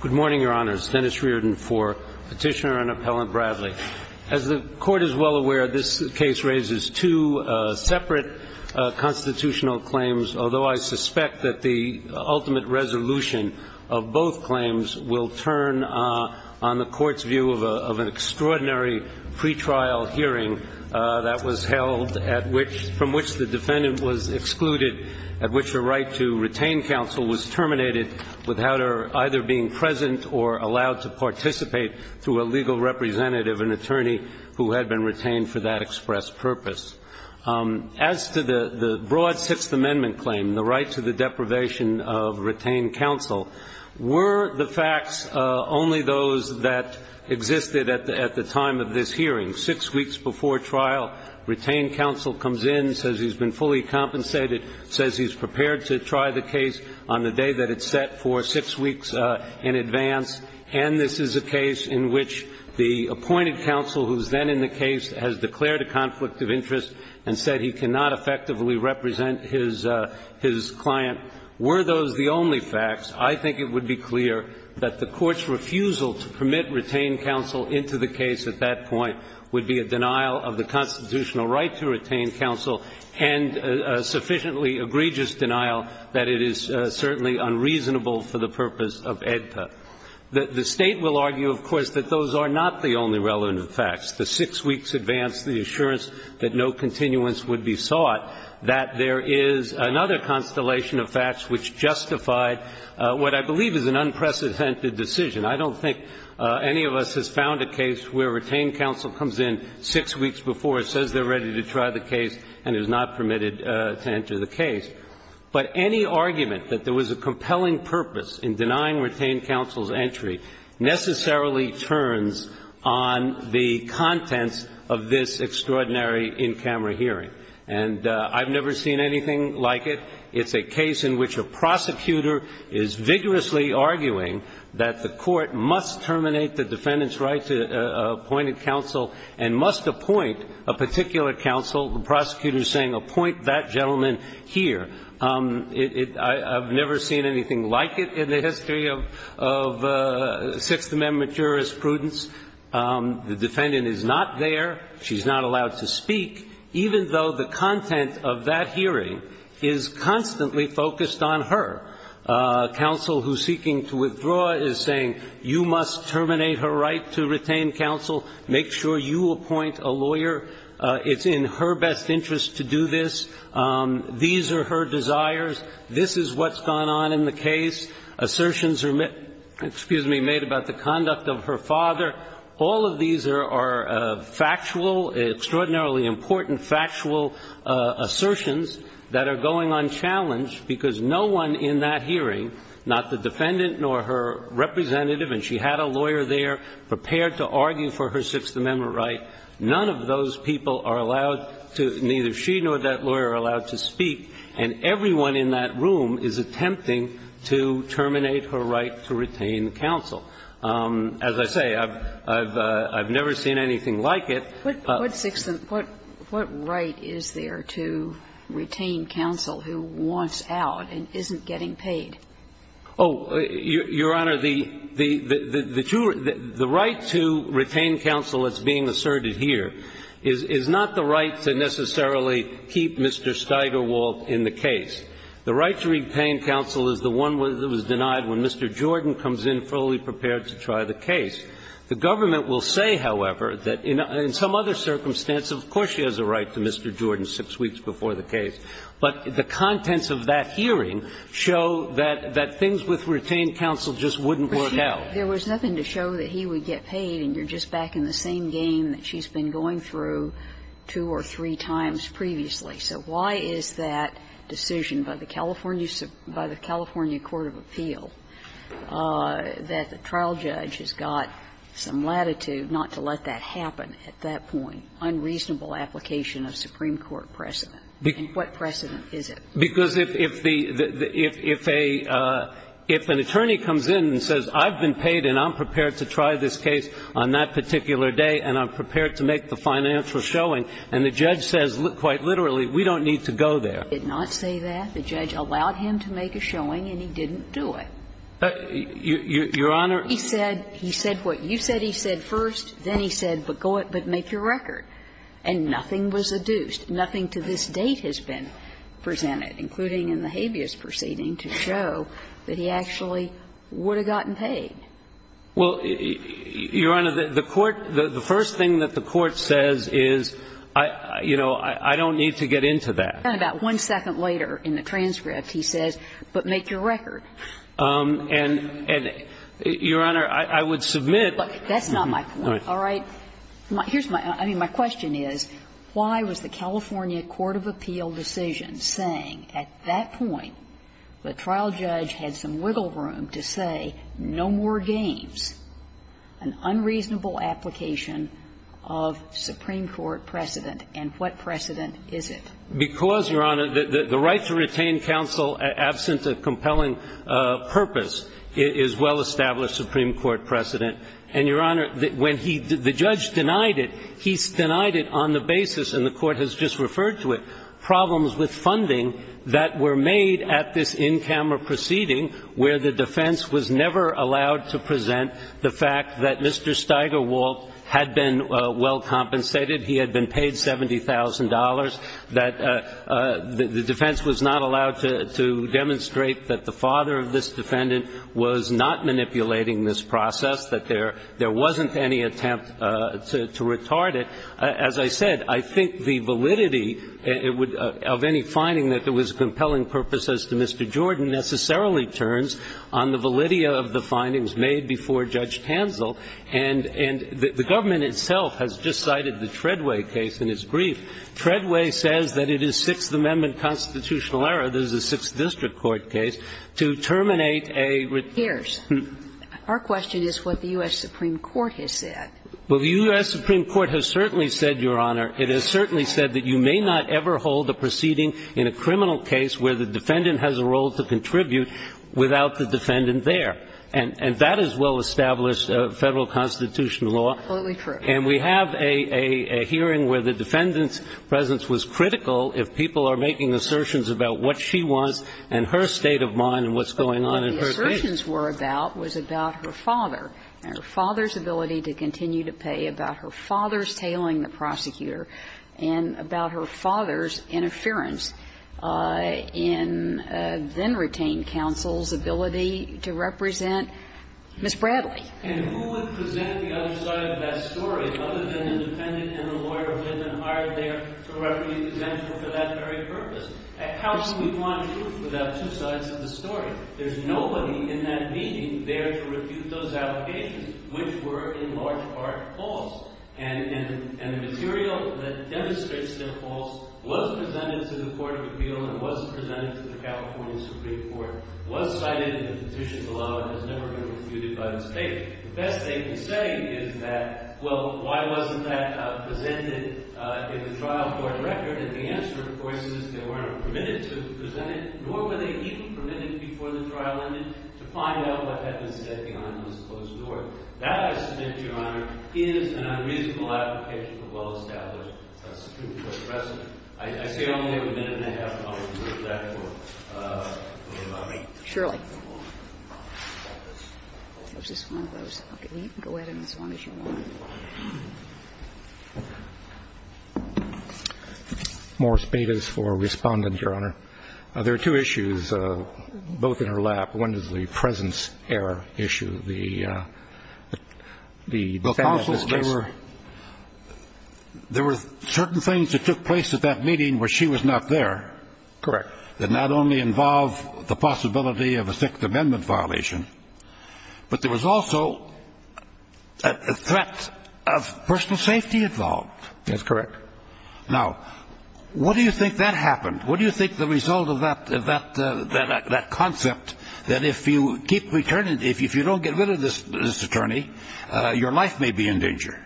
Good morning, Your Honors. Dennis Reardon for Petitioner and Appellant Bradley. As the Court is well aware, this case raises two separate constitutional claims, although I suspect that the ultimate resolution of both claims will turn on the Court's view of an extraordinary pretrial hearing that was held from which the defendant was excluded, at which the right to retain counsel was terminated without her either being present or allowed to participate through a legal representative, an attorney who had been retained for that express purpose. As to the broad Sixth Amendment claim, the right to the deprivation of retained counsel, were the facts only those that existed at the time of this hearing? And this is a case in which the appointed counsel who is then in the case has declared a conflict of interest and said he cannot effectively represent his client. Were those the only facts, I think it would be clear that the Court's refusal to permit retained counsel into the case at that point would have been a breach of the Sixth Amendment would be a denial of the constitutional right to retain counsel and a sufficiently egregious denial that it is certainly unreasonable for the purpose of AEDPA. The State will argue, of course, that those are not the only relevant facts. The six weeks advance the assurance that no continuance would be sought, that there is another constellation of facts which justified what I believe is an unprecedented decision. I don't think any of us has found a case where retained counsel comes in six weeks before, says they're ready to try the case, and is not permitted to enter the case. But any argument that there was a compelling purpose in denying retained counsel's entry necessarily turns on the contents of this extraordinary in-camera hearing. And I've never seen anything like it. It's a case in which a prosecutor is vigorously arguing that the Court must terminate the defendant's right to appointed counsel and must appoint a particular counsel. The prosecutor is saying, appoint that gentleman here. I've never seen anything like it in the history of Sixth Amendment jurisprudence. The defendant is not there. She's not allowed to speak, even though the content of that hearing is constantly focused on her. Counsel who's seeking to withdraw is saying, you must terminate her right to retain counsel. Make sure you appoint a lawyer. It's in her best interest to do this. These are her desires. This is what's gone on in the case. Assertions are made about the conduct of her father. All of these are factual, extraordinarily important factual assertions that are going on challenge because no one in that hearing, not the defendant nor her representative, and she had a lawyer there prepared to argue for her Sixth Amendment right. None of those people are allowed to, neither she nor that lawyer, are allowed to speak. And everyone in that room is attempting to terminate her right to retain counsel. As I say, I've never seen anything like it. What right is there to retain counsel who wants out and isn't getting paid? Oh, Your Honor, the right to retain counsel that's being asserted here is not the right to necessarily keep Mr. Steigerwald in the case. The right to retain counsel is the one that was denied when Mr. Jordan comes in fully prepared to try the case. The government will say, however, that in some other circumstance, of course she has a right to Mr. Jordan six weeks before the case. But the contents of that hearing show that things with retained counsel just wouldn't work out. There was nothing to show that he would get paid and you're just back in the same game that she's been going through two or three times previously. So why is that decision by the California Court of Appeal that the trial judge has got some latitude not to let that happen at that point? Unreasonable application of Supreme Court precedent. And what precedent is it? Because if the – if an attorney comes in and says, I've been paid and I'm prepared to try this case on that particular day and I'm prepared to make the financial showing, and the judge says quite literally, we don't need to go there. Did not say that? The judge allowed him to make a showing and he didn't do it. Your Honor. He said what you said he said first, then he said, but go ahead, but make your record. And nothing was adduced. Nothing to this date has been presented, including in the habeas proceeding, to show that he actually would have gotten paid. Well, Your Honor, the court – the first thing that the court says is, you know, I don't need to get into that. And then about one second later in the transcript, he says, but make your record. And, Your Honor, I would submit – Look, that's not my point, all right? Here's my – I mean, my question is, why was the California court of appeal decision saying at that point the trial judge had some wiggle room to say no more games, an unreasonable application of Supreme Court precedent, and what precedent is it? Because, Your Honor, the right to retain counsel absent a compelling purpose is well-established Supreme Court precedent. And, Your Honor, when he – the judge denied it, he denied it on the basis, and the court has just referred to it, problems with funding that were made at this in-camera proceeding where the defense was never allowed to present the fact that Mr. Steigerwald had been well compensated, he had been paid $70,000, that the defense was not allowed to demonstrate that the father of this defendant was not manipulating this process, that there wasn't any attempt to retard it. As I said, I think the validity of any finding that there was a compelling purpose as to Mr. Jordan necessarily turns on the validity of the findings made before Judge Tanzel. And the government itself has just cited the Treadway case in its brief. Treadway says that it is Sixth Amendment constitutional error, this is a Sixth District Court case, to terminate a – Here's – our question is what the U.S. Supreme Court has said. Well, the U.S. Supreme Court has certainly said, Your Honor, it has certainly said that you may not ever hold a proceeding in a criminal case where the defendant has a role to contribute without the defendant there. And that is well-established Federal constitutional law. Absolutely true. And we have a hearing where the defendant's presence was critical if people are making assertions about what she wants and her state of mind and what's going on in her case. But what the assertions were about was about her father, and her father's ability to continue to pay, about her father's tailing the prosecutor, and about her father's interference in then-retained counsel's ability to represent Ms. Bradley. And who would present the other side of that story other than the defendant and the lawyer who had been hired there to represent her for that very purpose? How can we want truth without two sides of the story? There's nobody in that meeting there to refute those allegations, which were in large part false. And the material that demonstrates they're false was presented to the Court of Appeal and was presented to the California Supreme Court, was cited in the petition below, and has never been refuted by the state. The best they can say is that, well, why wasn't that presented in the trial court record? And the answer, of course, is they weren't permitted to present it, nor were they even permitted before the trial ended to find out what had been said behind this closed door. That, I submit, Your Honor, is an unreasonable application for well-established Supreme Court precedent. I say only a minute and a half, and I'll reserve that for a little while. Shirley. That was just one of those. Okay. You can go ahead as long as you want. Morris Bates for Respondent, Your Honor. There are two issues, both in her lap. One is the presence error issue. The defendant was just ---- Counsel, there were certain things that took place at that meeting where she was not there. Correct. That not only involve the possibility of a Sixth Amendment violation, but there was also a threat of personal safety involved. That's correct. Now, what do you think that happened? What do you think the result of that concept, that if you keep returning, if you don't get rid of this attorney, your life may be in danger?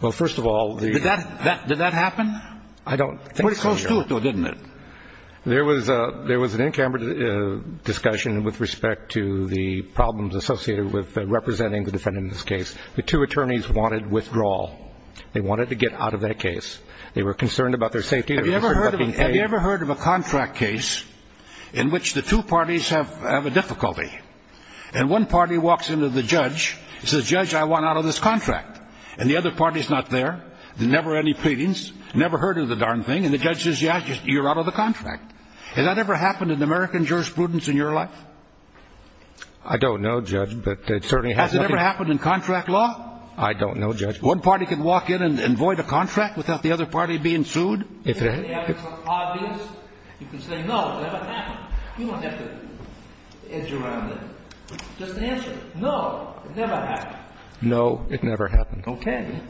Well, first of all, the ---- I don't think so, Your Honor. It was close to it, though, didn't it? There was an in-camera discussion with respect to the problems associated with representing the defendant in this case. The two attorneys wanted withdrawal. They wanted to get out of that case. They were concerned about their safety. Have you ever heard of a contract case in which the two parties have a difficulty? And one party walks into the judge and says, Judge, I want out of this contract. And the other party is not there. There's never any pleadings. Never heard of the darn thing. And the judge says, yeah, you're out of the contract. Has that ever happened in American jurisprudence in your life? I don't know, Judge, but it certainly hasn't. Has it ever happened in contract law? I don't know, Judge. One party can walk in and void a contract without the other party being sued? If it's obvious, you can say, no, it never happened. You don't have to edge around it. Just answer it. No, it never happened. No, it never happened. Okay.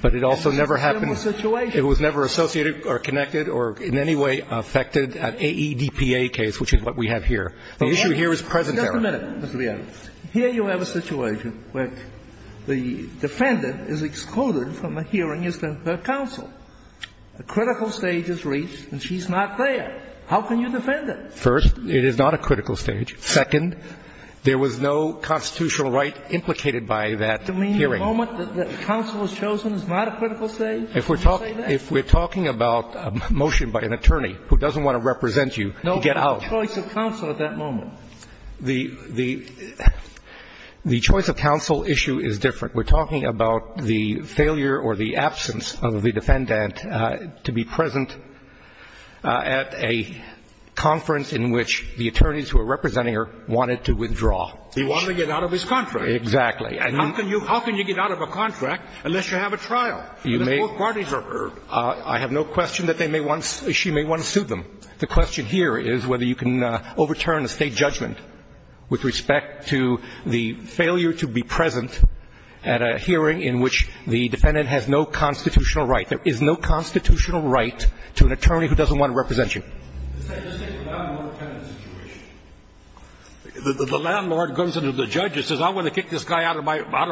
But it also never happened. It was a similar situation. It was never associated or connected or in any way affected an AEDPA case, which is what we have here. The issue here is present error. Just a minute, Mr. Bialik. Here you have a situation where the defendant is excluded from a hearing as to her counsel. A critical stage is reached, and she's not there. How can you defend it? First, it is not a critical stage. Second, there was no constitutional right implicated by that hearing. You mean the moment that counsel is chosen is not a critical stage? If we're talking about a motion by an attorney who doesn't want to represent you to get out. No, the choice of counsel at that moment. The choice of counsel issue is different. We're talking about the failure or the absence of the defendant to be present at a conference in which the attorneys who are representing her wanted to withdraw. He wanted to get out of his contract. Exactly. And how can you get out of a contract unless you have a trial? The court parties are heard. I have no question that she may want to sue them. The question here is whether you can overturn a State judgment with respect to the failure to be present at a hearing in which the defendant has no constitutional right. There is no constitutional right to an attorney who doesn't want to represent you. Just take the landlord-tenant situation. The landlord goes into the judge and says, I'm going to kick this guy out of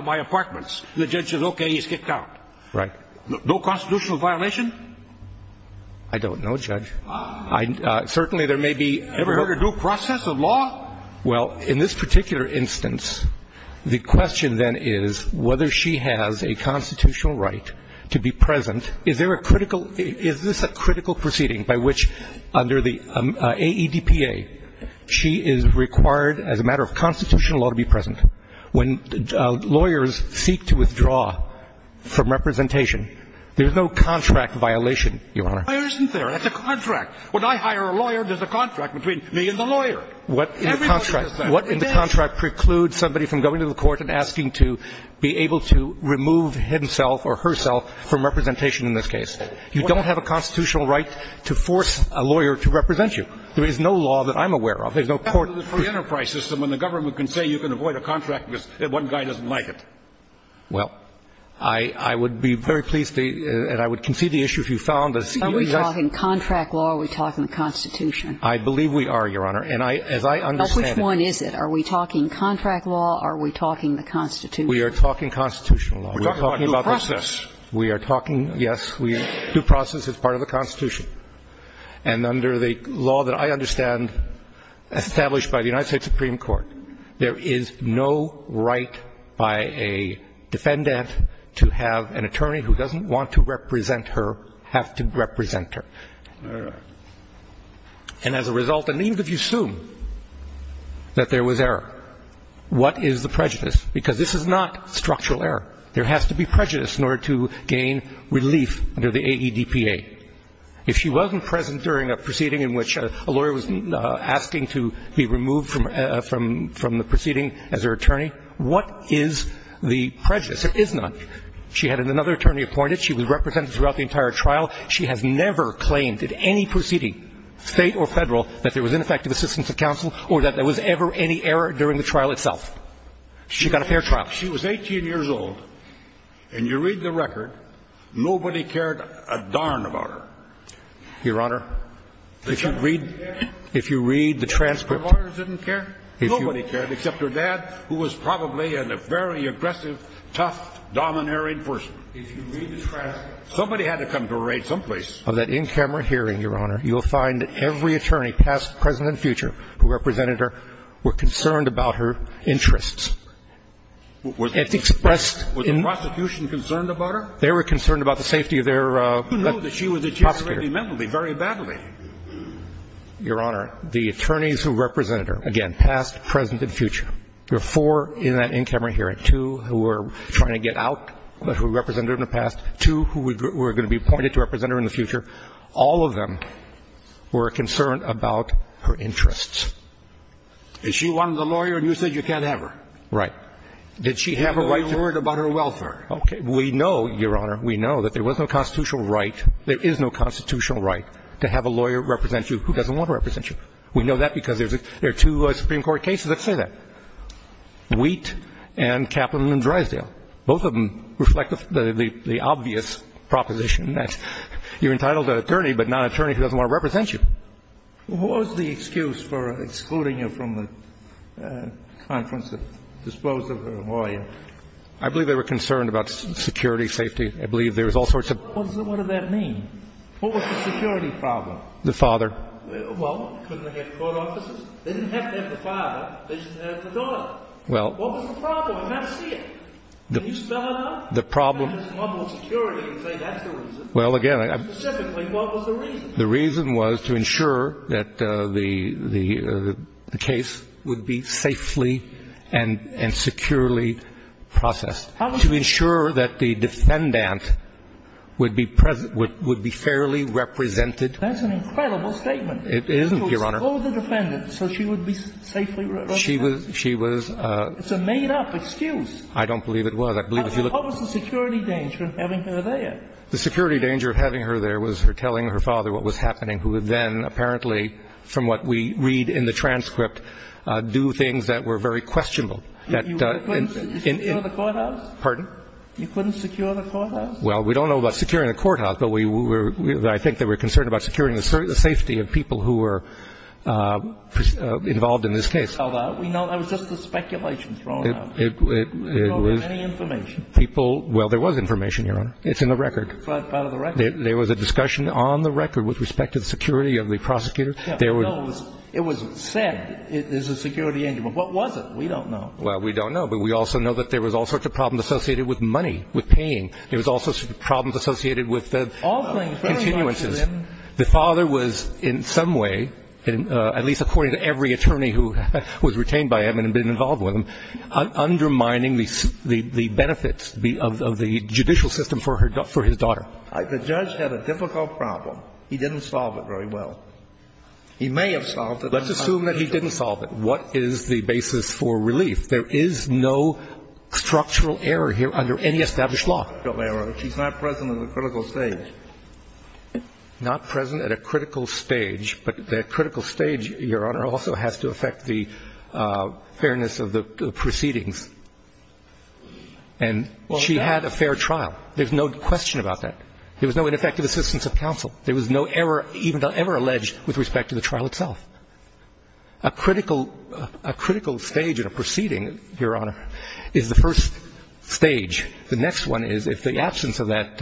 my apartments. The judge says, okay, he's kicked out. Right. No constitutional violation? I don't know, Judge. Certainly there may be. Ever heard of due process of law? Well, in this particular instance, the question then is whether she has a constitutional right to be present. Is there a critical, is this a critical proceeding by which under the AEDPA she is required as a matter of constitutional law to be present? When lawyers seek to withdraw from representation, there's no contract violation, Your Honor. Why isn't there? That's a contract. When I hire a lawyer, there's a contract between me and the lawyer. What in the contract precludes somebody from going to the court and asking to be able to remove himself or herself from representation in this case? You don't have a constitutional right to force a lawyer to represent you. There is no law that I'm aware of. There's no court. It's a free enterprise system, and the government can say you can avoid a contract because one guy doesn't like it. Well, I would be very pleased to, and I would concede the issue if you found this. Are we talking contract law or are we talking the Constitution? I believe we are, Your Honor, and as I understand it. Which one is it? Are we talking contract law or are we talking the Constitution? We are talking constitutional law. We're talking about due process. We are talking, yes, due process is part of the Constitution. And under the law that I understand established by the United States Supreme Court, there is no right by a defendant to have an attorney who doesn't want to represent her have to represent her. And as a result, and even if you assume that there was error, what is the prejudice? Because this is not structural error. There has to be prejudice in order to gain relief under the AEDPA. If she wasn't present during a proceeding in which a lawyer was asking to be removed from the proceeding as her attorney, what is the prejudice? There is none. She had another attorney appointed. She was represented throughout the entire trial. She has never claimed at any proceeding, state or federal, that there was ineffective assistance of counsel or that there was ever any error during the trial itself. She got a fair trial. She was 18 years old. And you read the record, nobody cared a darn about her. Your Honor, if you read the transcript. Nobody cared, except her dad, who was probably a very aggressive, tough, domineering person. If you read the transcript. Somebody had to come to her aid someplace. Of that in-camera hearing, Your Honor, you'll find that every attorney past, present, and future who represented her were concerned about her interests. Was the prosecution concerned about her? They were concerned about the safety of their prosecutor. Who knew that she was incarcerated mentally, very badly? Your Honor, the attorneys who represented her, again, past, present, and future. There were four in that in-camera hearing. Two who were trying to get out, but who represented her in the past. Two who were going to be appointed to represent her in the future. All of them were concerned about her interests. If she wanted a lawyer and you said you can't have her. Right. Did she have a right to? Or you worried about her welfare. Okay. We know, Your Honor, we know that there was no constitutional right, there is no constitutional right, to have a lawyer represent you who doesn't want to represent you. We know that because there are two Supreme Court cases that say that. Wheat and Kaplan and Drysdale. Both of them reflect the obvious proposition that you're entitled to an attorney, but not an attorney who doesn't want to represent you. What was the excuse for excluding her from the conference to dispose of her lawyer? I believe they were concerned about security, safety. I believe there was all sorts of. What does that mean? What was the security problem? The father. Well, couldn't they have court offices? They didn't have to have the father, they just had to have the daughter. Well. What was the problem? I can't see it. Can you spell it out? The problem. You can't just muddle security and say that's the reason. Well, again. Specifically, what was the reason? The reason was to ensure that the case would be safely and securely processed. To ensure that the defendant would be fairly represented. That's an incredible statement. It isn't, Your Honor. To expose the defendant so she would be safely represented. She was. It's a made up excuse. I don't believe it was. What was the security danger of having her there? The security danger of having her there was her telling her father what was happening. Who then, apparently, from what we read in the transcript, do things that were very questionable. You couldn't secure the courthouse? Pardon? You couldn't secure the courthouse? Well, we don't know about securing the courthouse, but I think they were concerned about securing the safety of people who were involved in this case. We know that was just a speculation thrown out. People. Well, there was information, Your Honor. It's in the record. It's part of the record. There was a discussion on the record with respect to the security of the prosecutor. It was said it was a security danger, but what was it? We don't know. Well, we don't know, but we also know that there was all sorts of problems associated with money, with paying. There was also problems associated with the continuances. The father was, in some way, at least according to every attorney who was retained by him and been involved with him, undermining the benefits of the judicial system for his daughter. The judge had a difficult problem. He didn't solve it very well. He may have solved it. Let's assume that he didn't solve it. What is the basis for relief? There is no structural error here under any established law. No structural error. She's not present at a critical stage. Not present at a critical stage. But the critical stage, Your Honor, also has to affect the fairness of the proceedings. And she had a fair trial. There's no question about that. There was no ineffective assistance of counsel. There was no error even ever alleged with respect to the trial itself. A critical stage in a proceeding, Your Honor, is the first stage. The next one is if the absence of that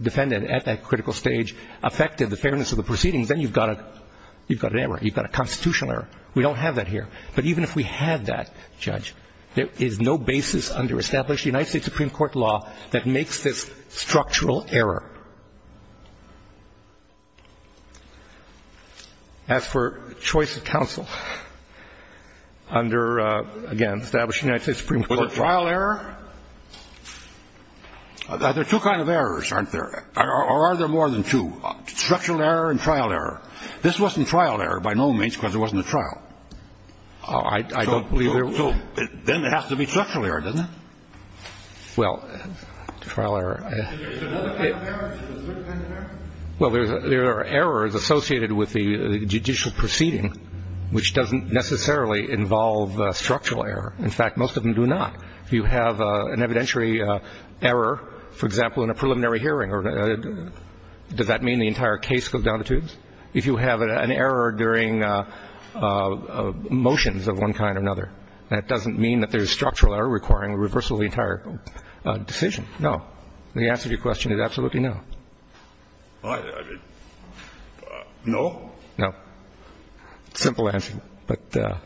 defendant at that critical stage affected the fairness of the proceedings, then you've got an error. You've got a constitutional error. We don't have that here. But even if we had that, Judge, there is no basis under established United States Supreme Court law that makes this structural error. As for choice of counsel under, again, established United States Supreme Court law. Was it trial error? There are two kinds of errors, aren't there? Or are there more than two? Structural error and trial error. This wasn't trial error by no means because it wasn't a trial. I don't believe there was. So then it has to be structural error, doesn't it? Well, trial error. Is there another kind of error? Is there a third kind of error? Well, there are errors associated with the judicial proceeding, which doesn't necessarily involve structural error. In fact, most of them do not. If you have an evidentiary error, for example, in a preliminary hearing, does that mean the entire case goes down the tubes? If you have an error during motions of one kind or another, that doesn't mean that there's structural error requiring a reversal of the entire decision. No. The answer to your question is absolutely no. No? No. Simple answer, but that,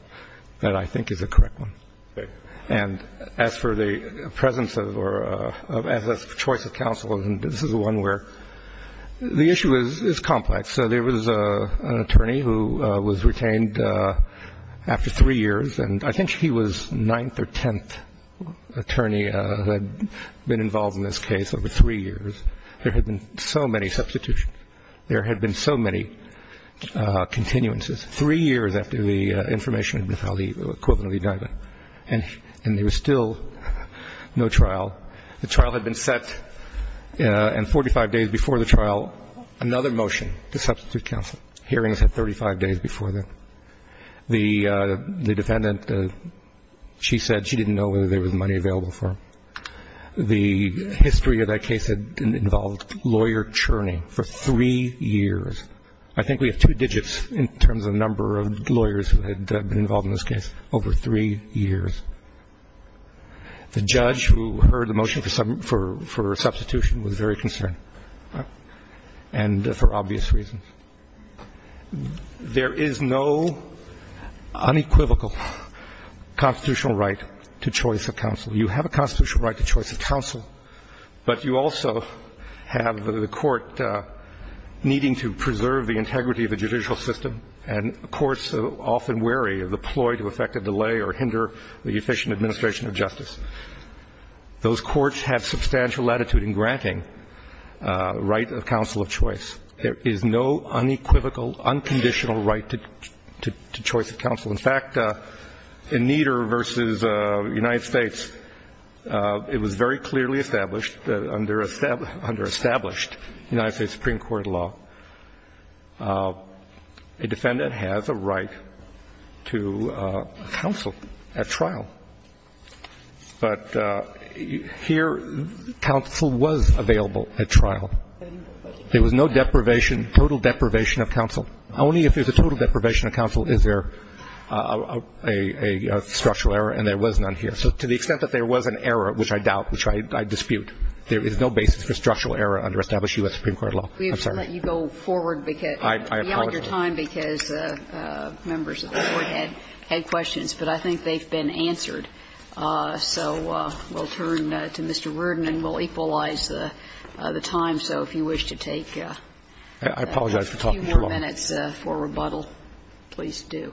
I think, is the correct one. Okay. And as for the presence of or as a choice of counsel, this is one where the issue is complex. So there was an attorney who was retained after three years. And I think he was ninth or tenth attorney who had been involved in this case over three years. There had been so many substitutions. There had been so many continuances. Three years after the information had been filed, the equivalent of the indictment. And there was still no trial. The trial had been set, and 45 days before the trial, another motion to substitute counsel. Hearings had 35 days before that. The defendant, she said she didn't know whether there was money available for him. The history of that case had involved lawyer churning for three years. I think we have two digits in terms of number of lawyers who had been involved in this case over three years. The judge who heard the motion for substitution was very concerned and for obvious reasons. There is no unequivocal constitutional right to choice of counsel. You have a constitutional right to choice of counsel, but you also have the court needing to preserve the integrity of the judicial system. And courts are often wary of the ploy to affect a delay or hinder the efficient administration of justice. Those courts have substantial latitude in granting right of counsel of choice. There is no unequivocal, unconditional right to choice of counsel. In fact, in Nieder v. United States, it was very clearly established that under established United States Supreme Court law, a defendant has a right to counsel at trial. But here, counsel was available at trial. There was no deprivation, total deprivation of counsel. Only if there's a total deprivation of counsel is there a structural error, and there was none here. So to the extent that there was an error, which I doubt, which I dispute, there is no basis for structural error under established U.S. Supreme Court law. I'm sorry. We have to let you go forward beyond your time because members of the Court had questions, but I think they've been answered. So we'll turn to Mr. Worden and we'll equalize the time. So if you wish to take a few more minutes. Please do.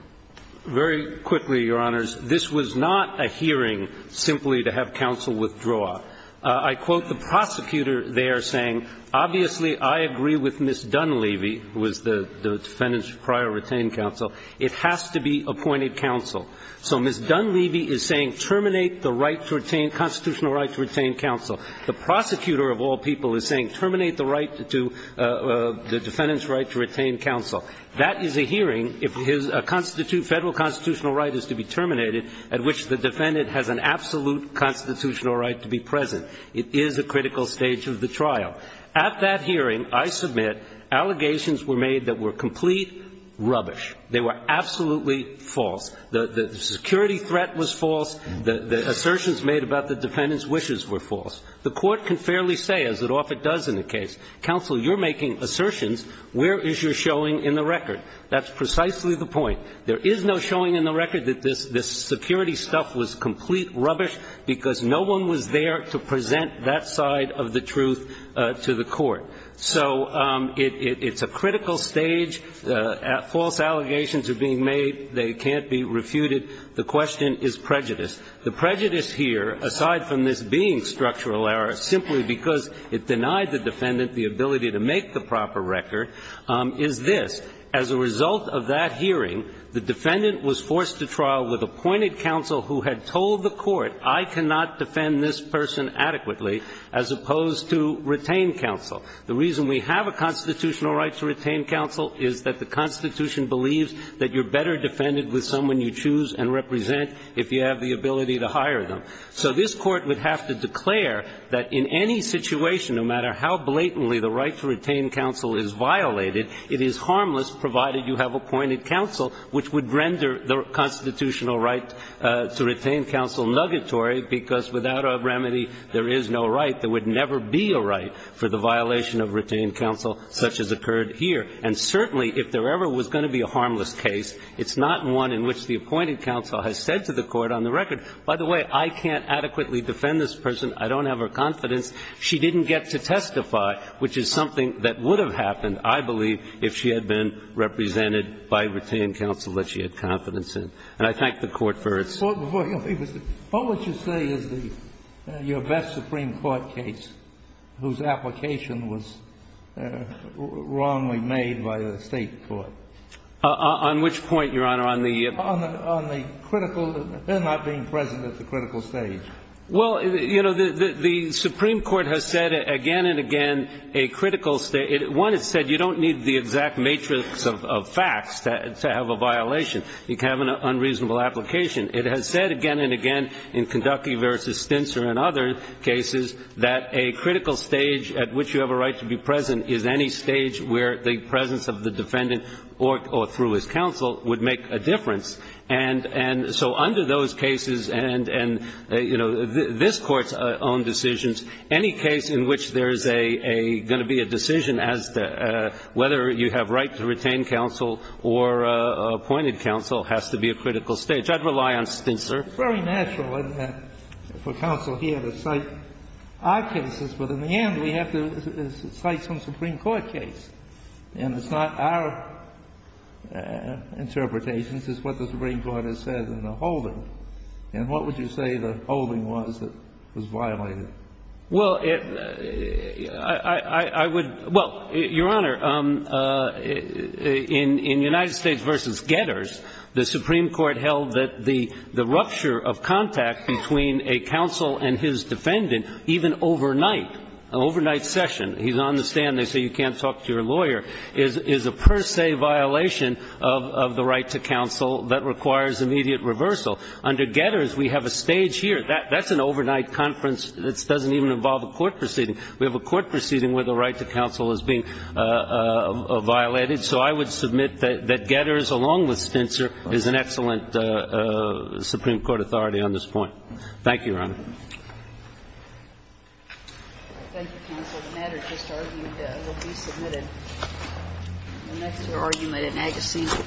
Very quickly, Your Honors. This was not a hearing simply to have counsel withdraw. I quote the prosecutor there saying, Obviously, I agree with Ms. Dunleavy, who was the defendant's prior retained counsel. It has to be appointed counsel. So Ms. Dunleavy is saying terminate the right to retain, constitutional right to retain counsel. The prosecutor of all people is saying terminate the right to, the defendant's right to retain counsel. That is a hearing if his federal constitutional right is to be terminated at which the defendant has an absolute constitutional right to be present. It is a critical stage of the trial. At that hearing, I submit, allegations were made that were complete rubbish. They were absolutely false. The security threat was false. The assertions made about the defendant's wishes were false. The Court can fairly say, as it often does in the case, Counsel, you're making assertions. Where is your showing in the record? That's precisely the point. There is no showing in the record that this security stuff was complete rubbish because no one was there to present that side of the truth to the Court. So it's a critical stage. False allegations are being made. They can't be refuted. The question is prejudice. The prejudice here, aside from this being structural error, simply because it denied the defendant the ability to make the proper record, is this. As a result of that hearing, the defendant was forced to trial with appointed counsel who had told the Court, I cannot defend this person adequately, as opposed to retain counsel. The reason we have a constitutional right to retain counsel is that the Constitution believes that you're better defended with someone you choose and represent if you have the ability to hire them. So this Court would have to declare that in any situation, no matter how blatantly the right to retain counsel is violated, it is harmless, provided you have appointed counsel, which would render the constitutional right to retain counsel nuggetory because without a remedy, there is no right. There would never be a right for the violation of retained counsel such as occurred here. And certainly, if there ever was going to be a harmless case, it's not one in which the appointed counsel has said to the Court on the record, by the way, I cannot adequately defend this person. I don't have her confidence. She didn't get to testify, which is something that would have happened, I believe, if she had been represented by retained counsel that she had confidence in. And I thank the Court for its ---- What would you say is your best Supreme Court case whose application was wrongly made by the State court? On which point, Your Honor? On the ---- They're not being present at the critical stage. Well, you know, the Supreme Court has said again and again a critical stage. One, it said you don't need the exact matrix of facts to have a violation. You can have an unreasonable application. It has said again and again in Keducky v. Stintzer and other cases that a critical stage at which you have a right to be present is any stage where the presence of the defendant or through his counsel would make a difference. And so under those cases and, you know, this Court's own decisions, any case in which there is a going to be a decision as to whether you have right to retain counsel or appointed counsel has to be a critical stage. I'd rely on Stintzer. It's very natural for counsel here to cite our cases, but in the end we have to cite some Supreme Court case. And it's not our interpretations. It's what the Supreme Court has said in the holding. And what would you say the holding was that was violated? Well, it ---- I would ---- well, Your Honor, in United States v. Getters, the Supreme Court held that the rupture of contact between a counsel and his defendant, even overnight, an overnight session, he's on the stand, they say you can't talk to your lawyer, is a per se violation of the right to counsel that requires immediate reversal. Under Getters, we have a stage here. That's an overnight conference that doesn't even involve a court proceeding. We have a court proceeding where the right to counsel is being violated. So I would submit that Getters, along with Stintzer, is an excellent Supreme Court authority on this point. Thank you, Your Honor. Thank you, counsel. The matter just argued will be submitted next to argument in agassiz.